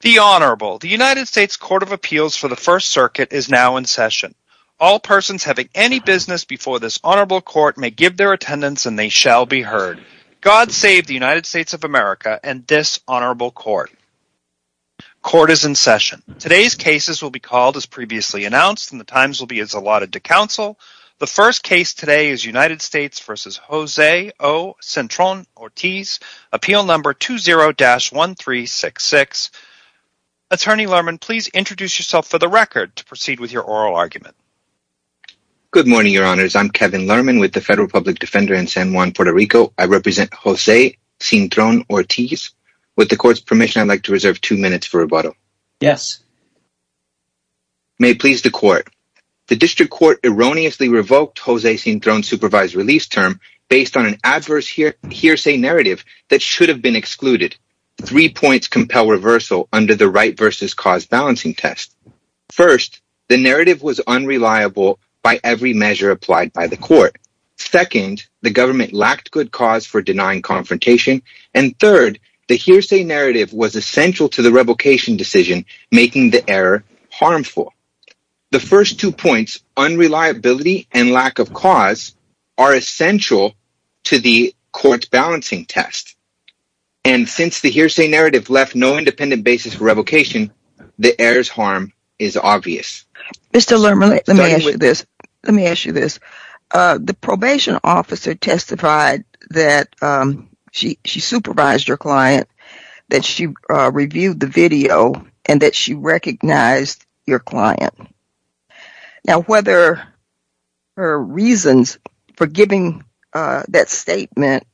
The Honorable. The United States Court of Appeals for the First Circuit is now in session. All persons having any business before this Honorable Court may give their attendance and they shall be heard. God save the United States of America and this Honorable Court. Court is in session. Today's cases will be called as previously announced and the times will be as allotted to counsel. The first case today is United States v. Jose O. Cintron-Ortiz, Appeal No. 20-1366. Attorney Lerman, please introduce yourself for the record to proceed with your oral argument. Good morning, Your Honors. I'm Kevin Lerman with the Federal Public Defender in San Juan, Puerto Rico. I represent Jose Cintron-Ortiz. With the Court's permission, I'd like to reserve two minutes for rebuttal. Yes. May it please the Court. The District Court erroneously revoked Jose Cintron's supervised release term based on an adverse hearsay narrative that should have been excluded. Three points compel reversal under the right versus cause balancing test. First, the narrative was unreliable by every measure applied by the Court. Second, the government lacked good cause for denying confrontation. And third, the hearsay narrative was essential to the revocation decision, making the error harmful. The first two points, unreliability and lack of cause, are essential to the Court's balancing test. And since the hearsay narrative left no independent basis for revocation, the error's harm is obvious. Mr. Lerman, let me ask you this. Let me ask you this. The probation officer testified that she supervised your client, that she reviewed the video, and that she recognized your client. Now, whether her reasons for giving that statement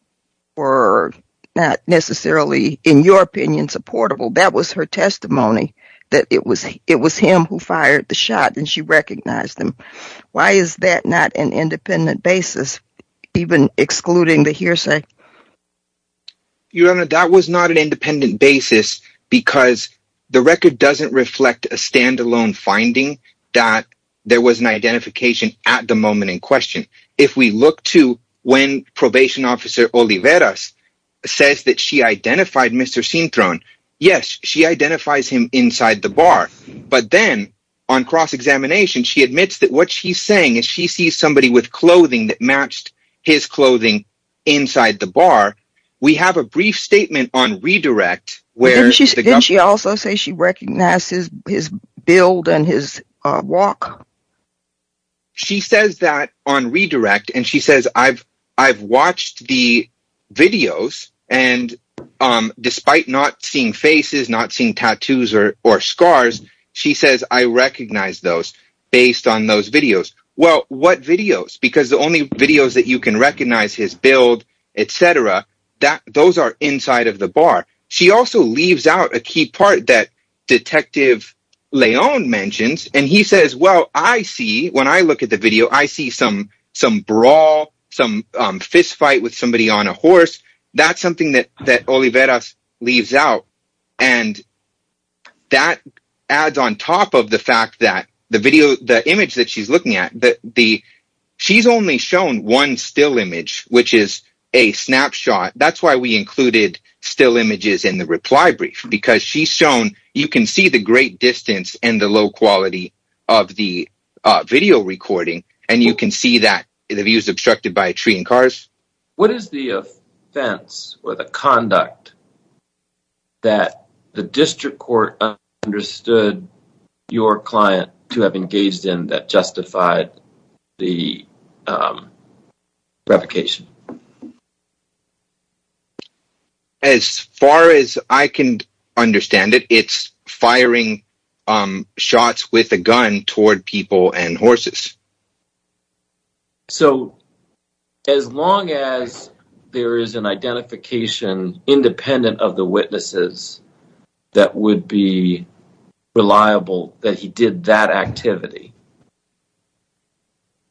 were not necessarily, in your opinion, supportable, that was her testimony, that it was him who fired the shot and she recognized him. Why is that not an independent basis, even excluding the hearsay? Your Honor, that was not an independent basis because the record doesn't reflect a stand-alone finding that there was an identification at the moment in question. And if we look to when probation officer Oliveras says that she identified Mr. Cintron, yes, she identifies him inside the bar. But then, on cross-examination, she admits that what she's saying is she sees somebody with clothing that matched his clothing inside the bar. We have a brief statement on redirect where the government... Didn't she also say she recognizes his build and his walk? She says that on redirect, and she says, I've watched the videos, and despite not seeing faces, not seeing tattoos or scars, she says, I recognize those based on those videos. Well, what videos? Because the only videos that you can recognize his build, etc., those are inside of the bar. She also leaves out a key part that Detective Leon mentions, and he says, well, I see, when I look at the video, I see some brawl, some fistfight with somebody on a horse. That's something that Oliveras leaves out. And that adds on top of the fact that the image that she's looking at, she's only shown one still image, which is a snapshot. That's why we included still images in the reply brief, because she's shown... You can see the great distance and the low quality of the video recording, and you can see that the view is obstructed by a tree and cars. What is the offense or the conduct that the district court understood your client to have engaged in that justified the revocation? As far as I can understand it, it's firing shots with a gun toward people and horses. So as long as there is an identification independent of the witnesses that would be reliable that he did that activity,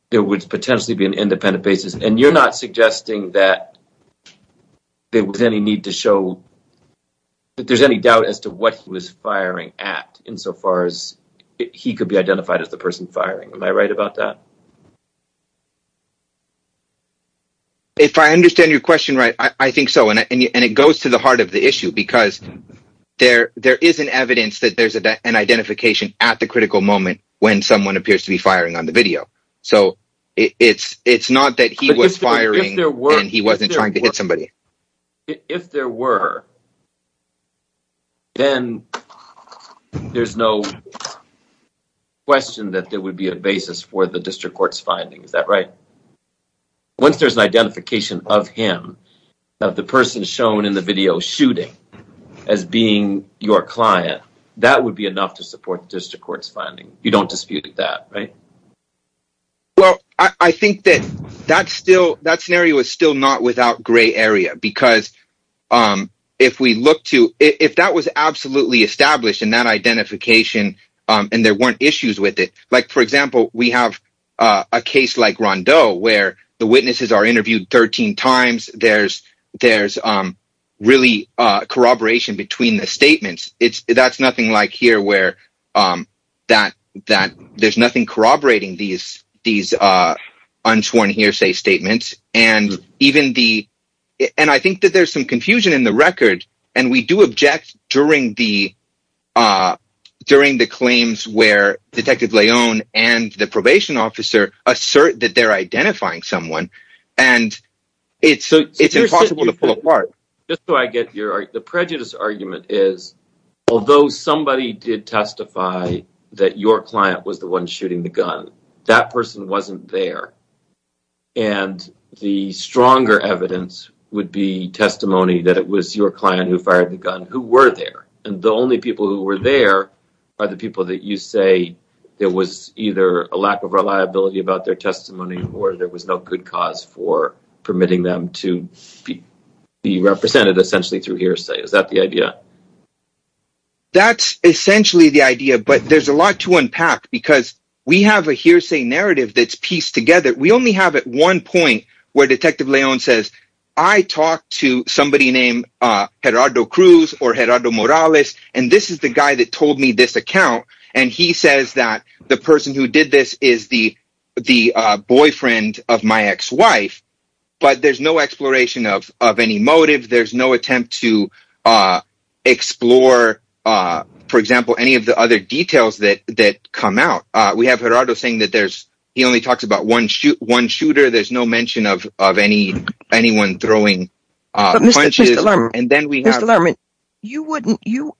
there would potentially be an independent basis. And you're not suggesting that there was any need to show that there's any doubt as to what he was firing at insofar as he could be identified as the person firing. Am I right about that? If I understand your question right, I think so. And it goes to the heart of the issue, because there is an evidence that there's an identification at the critical moment when someone appears to be firing on the video. So it's not that he was firing and he wasn't trying to hit somebody. If there were, then there's no question that there would be a basis for the district court's finding. Is that right? Once there's an identification of him, of the person shown in the video shooting as being your client, that would be enough to support the district court's finding. You don't dispute that, right? Well, I think that that scenario is still not without gray area. Because if that was absolutely established in that identification and there weren't issues with it. Like, for example, we have a case like Rondeau where the witnesses are interviewed 13 times. There's really corroboration between the statements. That's nothing like here where there's nothing corroborating these unsworn hearsay statements. And I think that there's some confusion in the record. And we do object during the claims where Detective Leone and the probation officer assert that they're identifying someone. It's impossible to pull apart. The prejudice argument is, although somebody did testify that your client was the one shooting the gun, that person wasn't there. And the stronger evidence would be testimony that it was your client who fired the gun who were there. And the only people who were there are the people that you say there was either a lack of reliability about their testimony or there was no good cause for permitting them to be represented essentially through hearsay. Is that the idea? That's essentially the idea. But there's a lot to unpack because we have a hearsay narrative that's pieced together. We only have at one point where Detective Leone says, I talked to somebody named Gerardo Cruz or Gerardo Morales. And this is the guy that told me this account. And he says that the person who did this is the boyfriend of my ex-wife. But there's no exploration of any motive. There's no attempt to explore, for example, any of the other details that come out. We have Gerardo saying that he only talks about one shooter. There's no mention of anyone throwing punches. Mr. Lerman,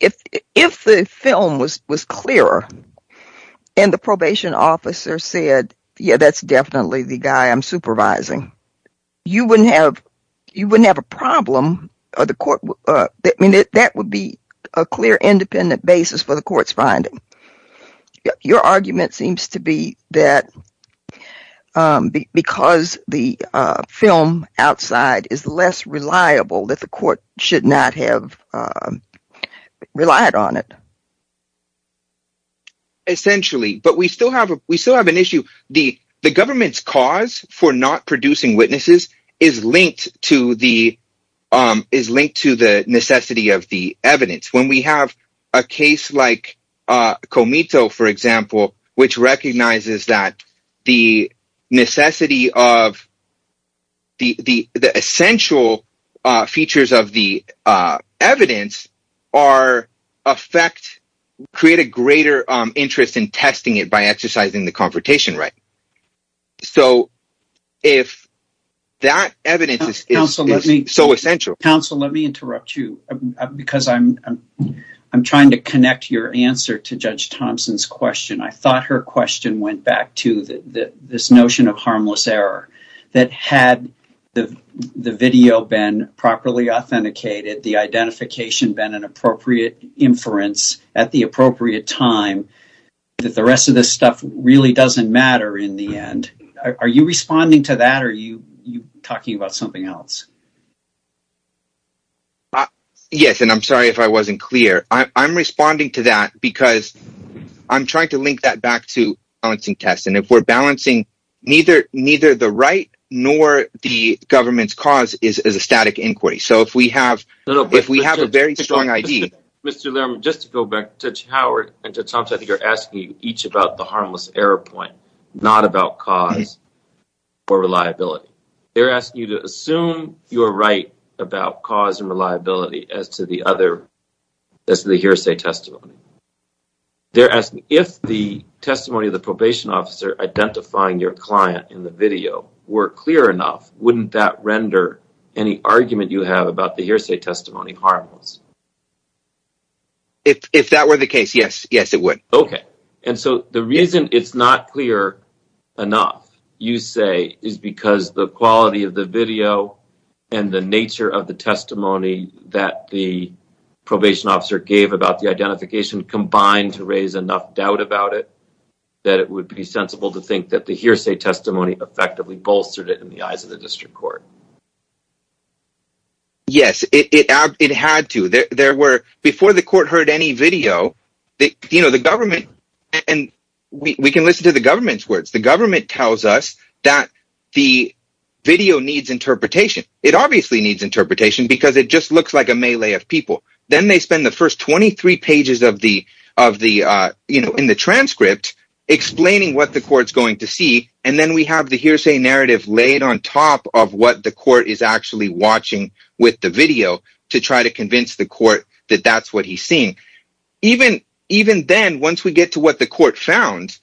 if the film was clearer and the probation officer said, yeah, that's definitely the guy I'm supervising, you wouldn't have a problem. That would be a clear independent basis for the court's finding. Your argument seems to be that because the film outside is less reliable, that the court should not have relied on it. Essentially. But we still have an issue. The government's cause for not producing witnesses is linked to the necessity of the evidence. When we have a case like Comito, for example, which recognizes that the necessity of the essential features of the evidence create a greater interest in testing it by exercising the confrontation right. So if that evidence is so essential. Counsel, let me interrupt you because I'm trying to connect your answer to Judge Thompson's question. I thought her question went back to this notion of harmless error that had the video been properly authenticated. The identification been an appropriate inference at the appropriate time that the rest of this stuff really doesn't matter in the end. Are you responding to that? Are you talking about something else? Yes, and I'm sorry if I wasn't clear. I'm responding to that because I'm trying to link that back to balancing test. And if we're balancing neither, neither the right nor the government's cause is a static inquiry. If we have a very strong ID. Mr. Lerman, just to go back to Howard and to Thompson, you're asking each about the harmless error point, not about cause or reliability. They're asking you to assume you're right about cause and reliability as to the other, as the hearsay testimony. They're asking if the testimony of the probation officer identifying your client in the video were clear enough, wouldn't that render any argument you have about the hearsay testimony harmless? If that were the case, yes. Yes, it would. OK, and so the reason it's not clear enough, you say, is because the quality of the video and the nature of the testimony that the probation officer gave about the identification combined to raise enough doubt about it. That it would be sensible to think that the hearsay testimony effectively bolstered it in the eyes of the district court. Yes, it had to. Before the court heard any video, the government, and we can listen to the government's words, the government tells us that the video needs interpretation. It obviously needs interpretation because it just looks like a melee of people. Then they spend the first 23 pages in the transcript explaining what the court's going to see, and then we have the hearsay narrative laid on top of what the court is actually watching with the video to try to convince the court that that's what he's seeing. Even then, once we get to what the court found,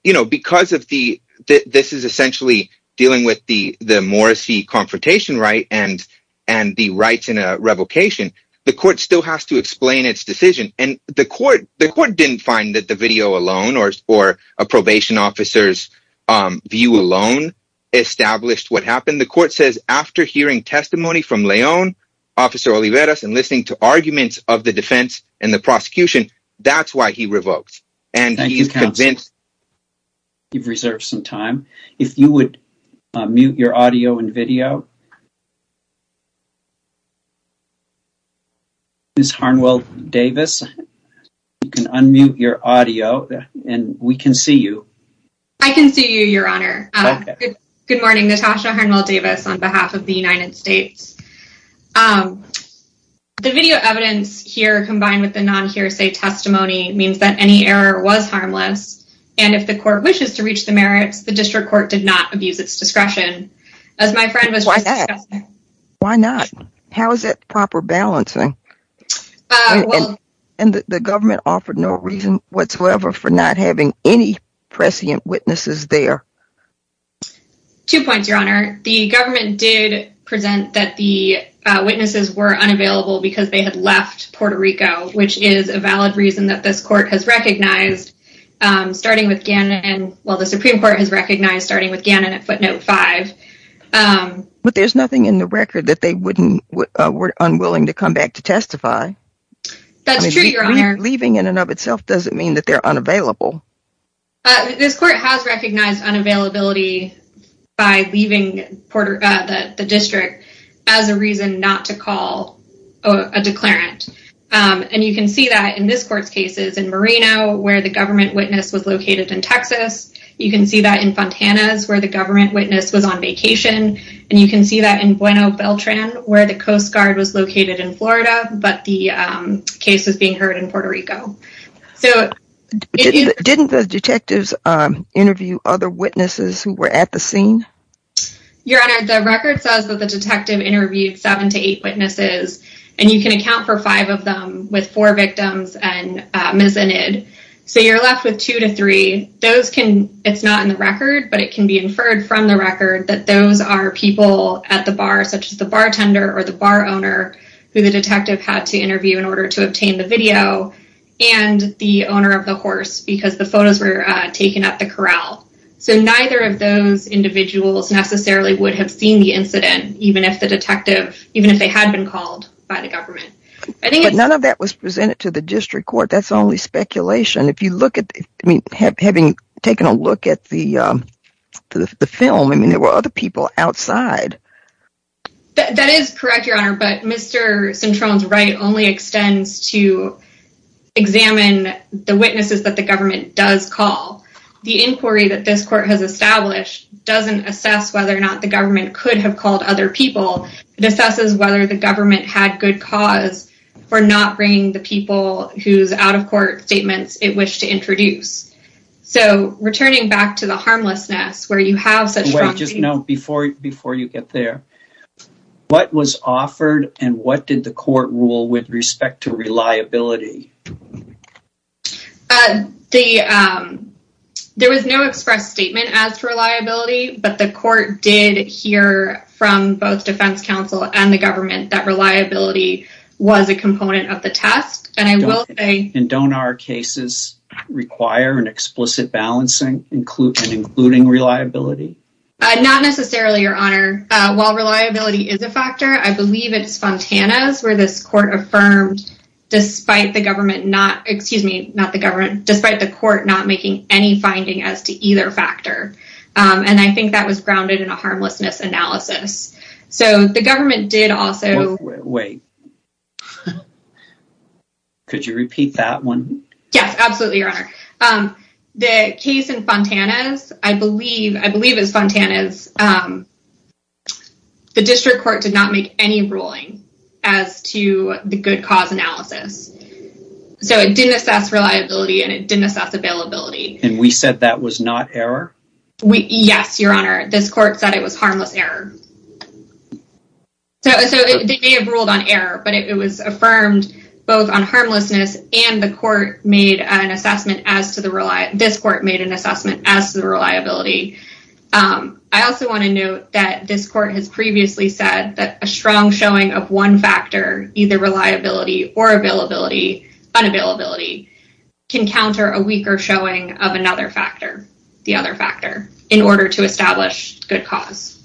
because this is essentially dealing with the Morris v. Confrontation right and the rights in a revocation, the court still has to explain its decision. The court didn't find that the video alone or a probation officer's view alone established what happened. The court says after hearing testimony from Leon, Officer Oliveras, and listening to arguments of the defense and the prosecution, that's why he revoked. Thank you, counsel. You've reserved some time. If you would mute your audio and video. Ms. Harnwell-Davis, you can unmute your audio and we can see you. I can see you, Your Honor. Good morning. Natasha Harnwell-Davis on behalf of the United States. The video evidence here combined with the non-hearsay testimony means that any error was harmless, and if the court wishes to reach the merits, the district court did not abuse its discretion. Why not? How is that proper balancing? And the government offered no reason whatsoever for not having any prescient witnesses there. Two points, Your Honor. The government did present that the witnesses were unavailable because they had left Puerto Rico, which is a valid reason that this court has recognized, starting with Gannon. Well, the Supreme Court has recognized starting with Gannon at footnote 5. But there's nothing in the record that they were unwilling to come back to testify. That's true, Your Honor. Leaving in and of itself doesn't mean that they're unavailable. This court has recognized unavailability by leaving the district as a reason not to call a declarant. And you can see that in this court's cases in Moreno, where the government witness was located in Texas. You can see that in Fontana's, where the government witness was on vacation. And you can see that in Bueno Beltran, where the Coast Guard was located in Florida, but the case was being heard in Puerto Rico. Didn't the detectives interview other witnesses who were at the scene? Your Honor, the record says that the detective interviewed seven to eight witnesses. And you can account for five of them with four victims and mizzenid. So you're left with two to three. It's not in the record, but it can be inferred from the record that those are people at the bar, such as the bartender or the bar owner, who the detective had to interview in order to obtain the video. And the owner of the horse, because the photos were taken at the corral. So neither of those individuals necessarily would have seen the incident, even if the detective, even if they had been called by the government. But none of that was presented to the district court. That's only speculation. If you look at, I mean, having taken a look at the film, I mean, there were other people outside. That is correct, Your Honor, but Mr. Cintron's right only extends to examine the witnesses that the government does call. The inquiry that this court has established doesn't assess whether or not the government could have called other people. It assesses whether the government had good cause for not bringing the people who's out of court statements it wished to introduce. So returning back to the harmlessness where you have such. Just know before you get there, what was offered and what did the court rule with respect to reliability? There was no express statement as to reliability, but the court did hear from both defense counsel and the government that reliability was a component of the test. And don't our cases require an explicit balancing, including including reliability? Not necessarily, Your Honor. While reliability is a factor, I believe it's Fontana's where this court affirmed, despite the government not excuse me, not the government, despite the court not making any finding as to either factor. And I think that was grounded in a harmlessness analysis. So the government did also wait. Could you repeat that one? Yes, absolutely. The case in Fontana's, I believe, I believe is Fontana's. The district court did not make any ruling as to the good cause analysis. So it didn't assess reliability and it didn't assess availability. And we said that was not error. Yes, Your Honor. This court said it was harmless error. So they have ruled on error, but it was affirmed both on harmlessness and the court made an assessment as to the reliability. This court made an assessment as to the reliability. I also want to note that this court has previously said that a strong showing of one factor, either reliability or availability, unavailability, can counter a weaker showing of another factor, the other factor, in order to establish good cause.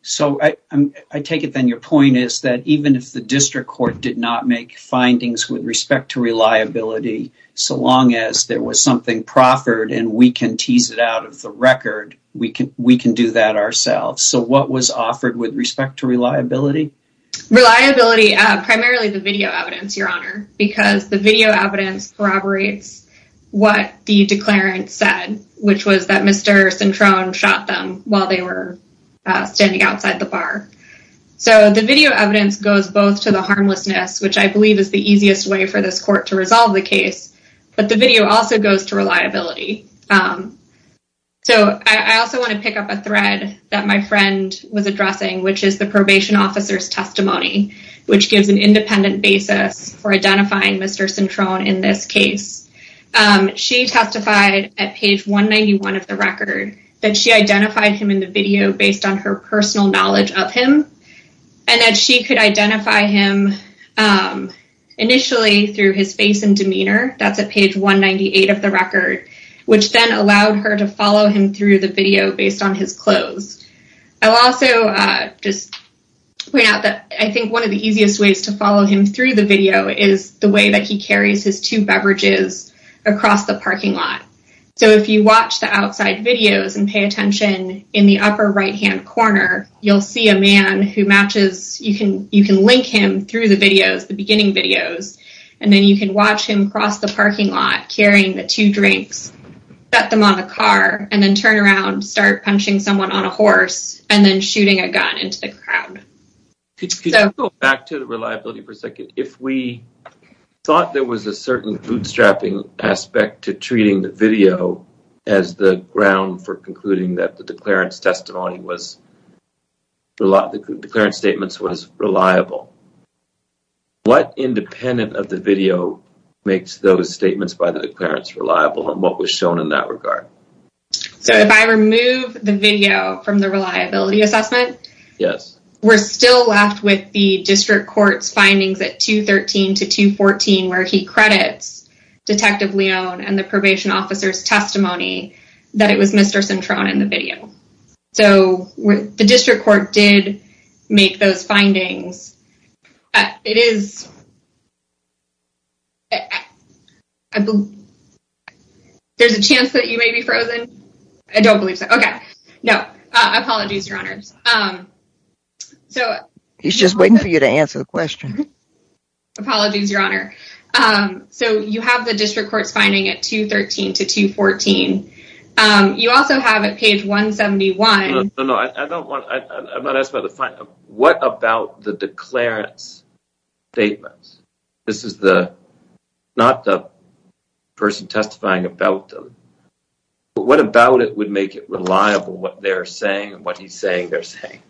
So I take it then your point is that even if the district court did not make findings with respect to reliability, so long as there was something proffered and we can tease it out of the record, we can do that ourselves. So what was offered with respect to reliability? Reliability, primarily the video evidence, Your Honor, because the video evidence corroborates what the declarant said, which was that Mr. Centrone shot them while they were standing outside the bar. So the video evidence goes both to the harmlessness, which I believe is the easiest way for this court to resolve the case. So I also want to pick up a thread that my friend was addressing, which is the probation officer's testimony, which gives an independent basis for identifying Mr. Centrone in this case. She testified at page 191 of the record that she identified him in the video based on her personal knowledge of him. And that she could identify him initially through his face and demeanor. That's at page 198 of the record, which then allowed her to follow him through the video based on his clothes. I'll also just point out that I think one of the easiest ways to follow him through the video is the way that he carries his two beverages across the parking lot. So if you watch the outside videos and pay attention in the upper right hand corner, you'll see a man who matches. You can you can link him through the videos, the beginning videos. And then you can watch him cross the parking lot, carrying the two drinks, set them on a car and then turn around, start punching someone on a horse and then shooting a gun into the crowd. Could you go back to the reliability for a second? If we thought there was a certain bootstrapping aspect to treating the video as the ground for concluding that the declarant's testimony was, the declarant's statements was reliable. What independent of the video makes those statements by the declarants reliable and what was shown in that regard? If I remove the video from the reliability assessment. Yes. We're still left with the district court's findings at 213 to 214, where he credits Detective Leone and the probation officer's testimony that it was Mr. There's a chance that you may be frozen. I don't believe so. OK, no apologies. Your honors. So he's just waiting for you to answer the question. Apologies, Your Honor. So you have the district court's finding at 213 to 214. You also have a page 171. No, no, no. I don't want to ask about the final. What about the declarants statements? This is not the person testifying about them. What about it would make it reliable what they're saying and what he's saying they're saying?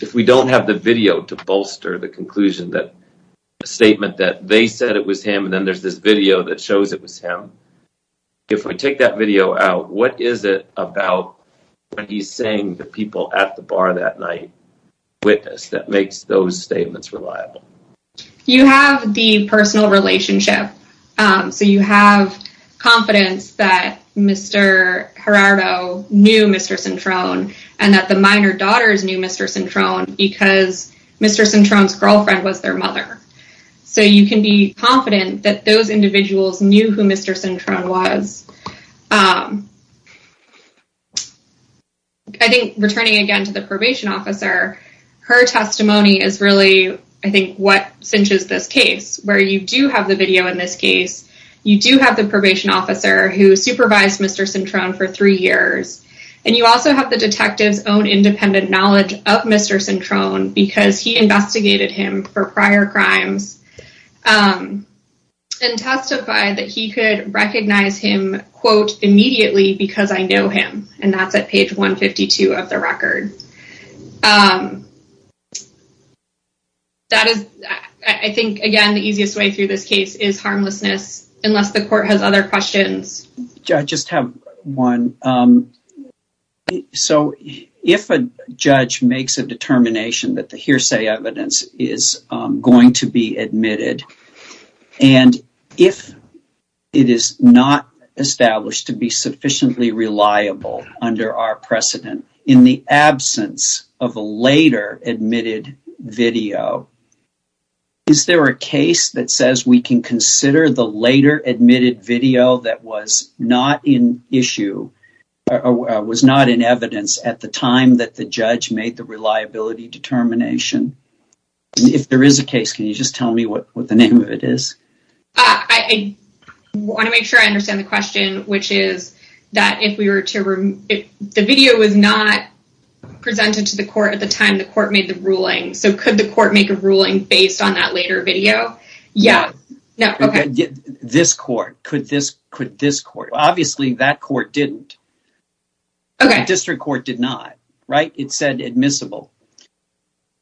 If we don't have the video to bolster the conclusion that a statement that they said it was him and then there's this video that shows it was him. If we take that video out, what is it about what he's saying that people at the bar that night witnessed that makes those statements reliable? You have the personal relationship. So you have confidence that Mr. Gerardo knew Mr. Cintron and that the minor daughters knew Mr. Cintron because Mr. Cintron's girlfriend was their mother. So you can be confident that those individuals knew who Mr. Cintron was. I think returning again to the probation officer. Her testimony is really, I think, what cinches this case where you do have the video in this case. You do have the probation officer who supervised Mr. Cintron for three years. And you also have the detectives own independent knowledge of Mr. Cintron because he investigated him for prior crimes and testified that he could recognize him, quote, immediately because I know him. And that's at page 152 of the record. I think, again, the easiest way through this case is harmlessness, unless the court has other questions. I just have one. So if a judge makes a determination that the hearsay evidence is going to be admitted, and if it is not established to be sufficiently reliable under our precedent in the absence of a later admitted video, is there a case that says we can consider the later admitted video that was not in issue, was not in evidence at the time that the judge made the reliability determination? If there is a case, can you just tell me what the name of it is? I want to make sure I understand the question, which is that if we were to the video was not presented to the court at the time the court made the ruling. So could the court make a ruling based on that later video? Yeah. No. This court. Could this could this court? Obviously, that court didn't. OK, district court did not write. It said admissible.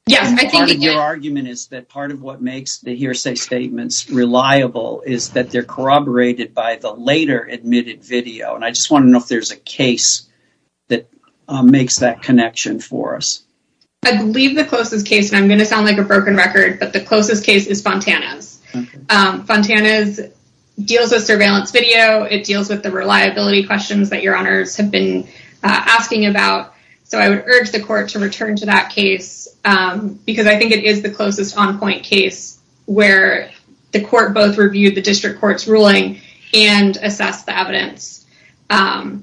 Yes. Your argument is that part of what makes the hearsay statements reliable is that they're corroborated by the later admitted video. And I just want to know if there's a case that makes that connection for us. I believe the closest case, and I'm going to sound like a broken record, but the closest case is Fontana's. Fontana's deals with surveillance video. It deals with the reliability questions that your honors have been asking about. So I would urge the court to return to that case because I think it is the closest on point case where the court both reviewed the district court's ruling and assess the evidence under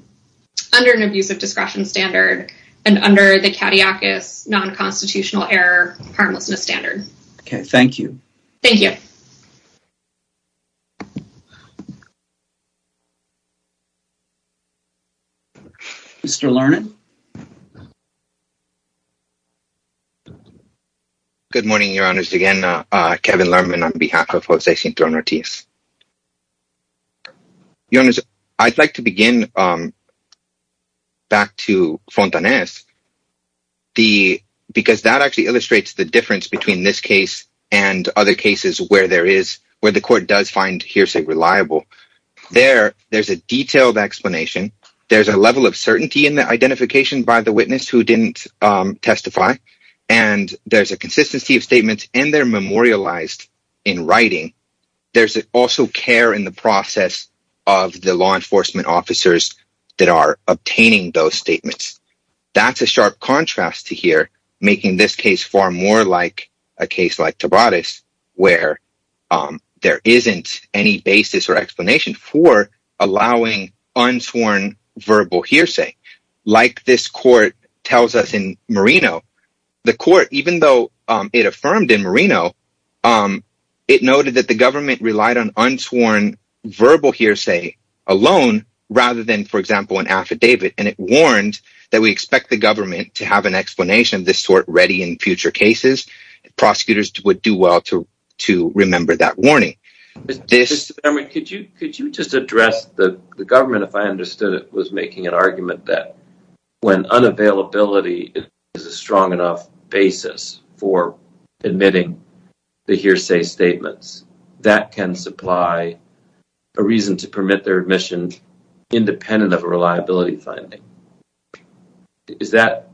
an abuse of discretion standard and under the catechist non-constitutional error. Harmlessness standard. Thank you. Mr. Good morning, your honors. Again, Kevin Lerman on behalf of. You know, I'd like to begin back to Fontana's. The because that actually illustrates the difference between this case and other cases where there is where the court does find hearsay reliable there. There's a detailed explanation. There's a level of certainty in the identification by the witness who didn't testify, and there's a consistency of statements, and they're memorialized in writing. There's also care in the process of the law enforcement officers that are obtaining those statements. That's a sharp contrast to here, making this case far more like a case like Tobias, where there isn't any basis or explanation for allowing unsworn verbal hearsay. The court, even though it affirmed in Marino, it noted that the government relied on unsworn verbal hearsay alone rather than, for example, an affidavit, and it warned that we expect the government to have an explanation of this sort ready in future cases. Prosecutors would do well to remember that warning. Could you just address the government, if I understood it, was making an argument that when unavailability is a strong enough basis for admitting the hearsay statements, that can supply a reason to permit their admission independent of a reliability finding. Is that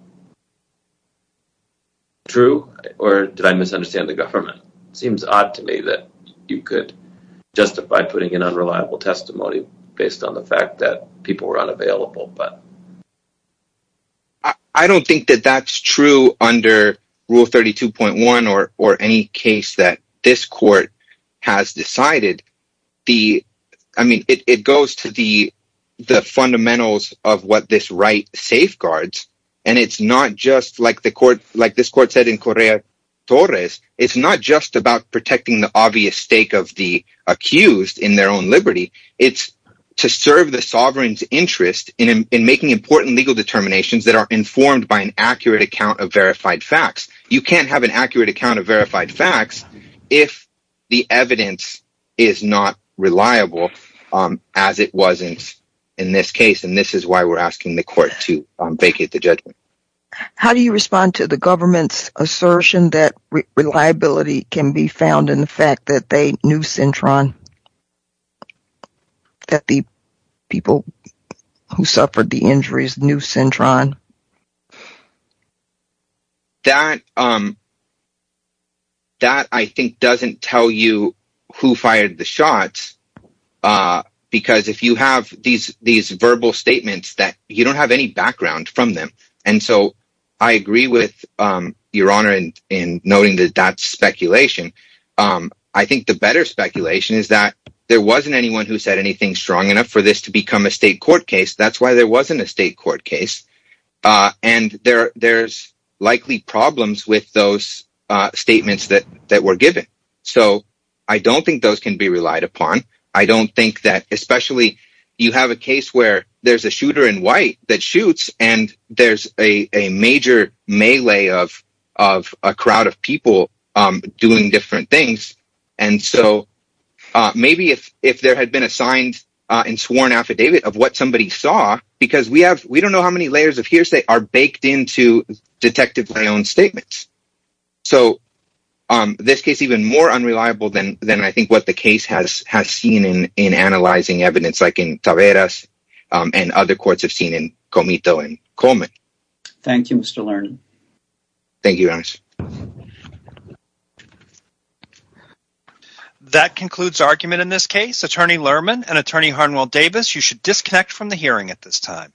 true, or did I misunderstand the government? It seems odd to me that you could justify putting an unreliable testimony based on the fact that people were unavailable. I don't think that that's true under Rule 32.1 or any case that this court has decided. It goes to the fundamentals of what this right safeguards, and it's not just like this court said in Correa-Torres, it's not just about protecting the obvious stake of the accused in their own liberty, it's to serve the sovereign's interest in making important legal determinations that are informed by an accurate account of verified facts. You can't have an accurate account of verified facts if the evidence is not reliable, as it wasn't in this case, and this is why we're asking the court to vacate the judgment. How do you respond to the government's assertion that reliability can be found in the fact that they knew Cintron, that the people who suffered the injuries knew Cintron? That, I think, doesn't tell you who fired the shots, because if you have these verbal statements, you don't have any background from them. And so I agree with Your Honor in noting that that's speculation. I think the better speculation is that there wasn't anyone who said anything strong enough for this to become a state court case, that's why there wasn't a state court case, and there's likely problems with those statements that were given. So I don't think those can be relied upon. I don't think that, especially, you have a case where there's a shooter in white that shoots, and there's a major melee of a crowd of people doing different things, and so maybe if there had been a signed and sworn affidavit of what somebody saw, because we don't know how many layers of hearsay are baked into Detective Leon's statements. So this case is even more unreliable than I think what the case has seen in analyzing evidence like in Taveras and other courts have seen in Comito and Coleman. Thank you, Mr. Lerman. Thank you, Your Honor. That concludes argument in this case. Attorney Lerman and Attorney Harnwell Davis, you should disconnect from the hearing at this time.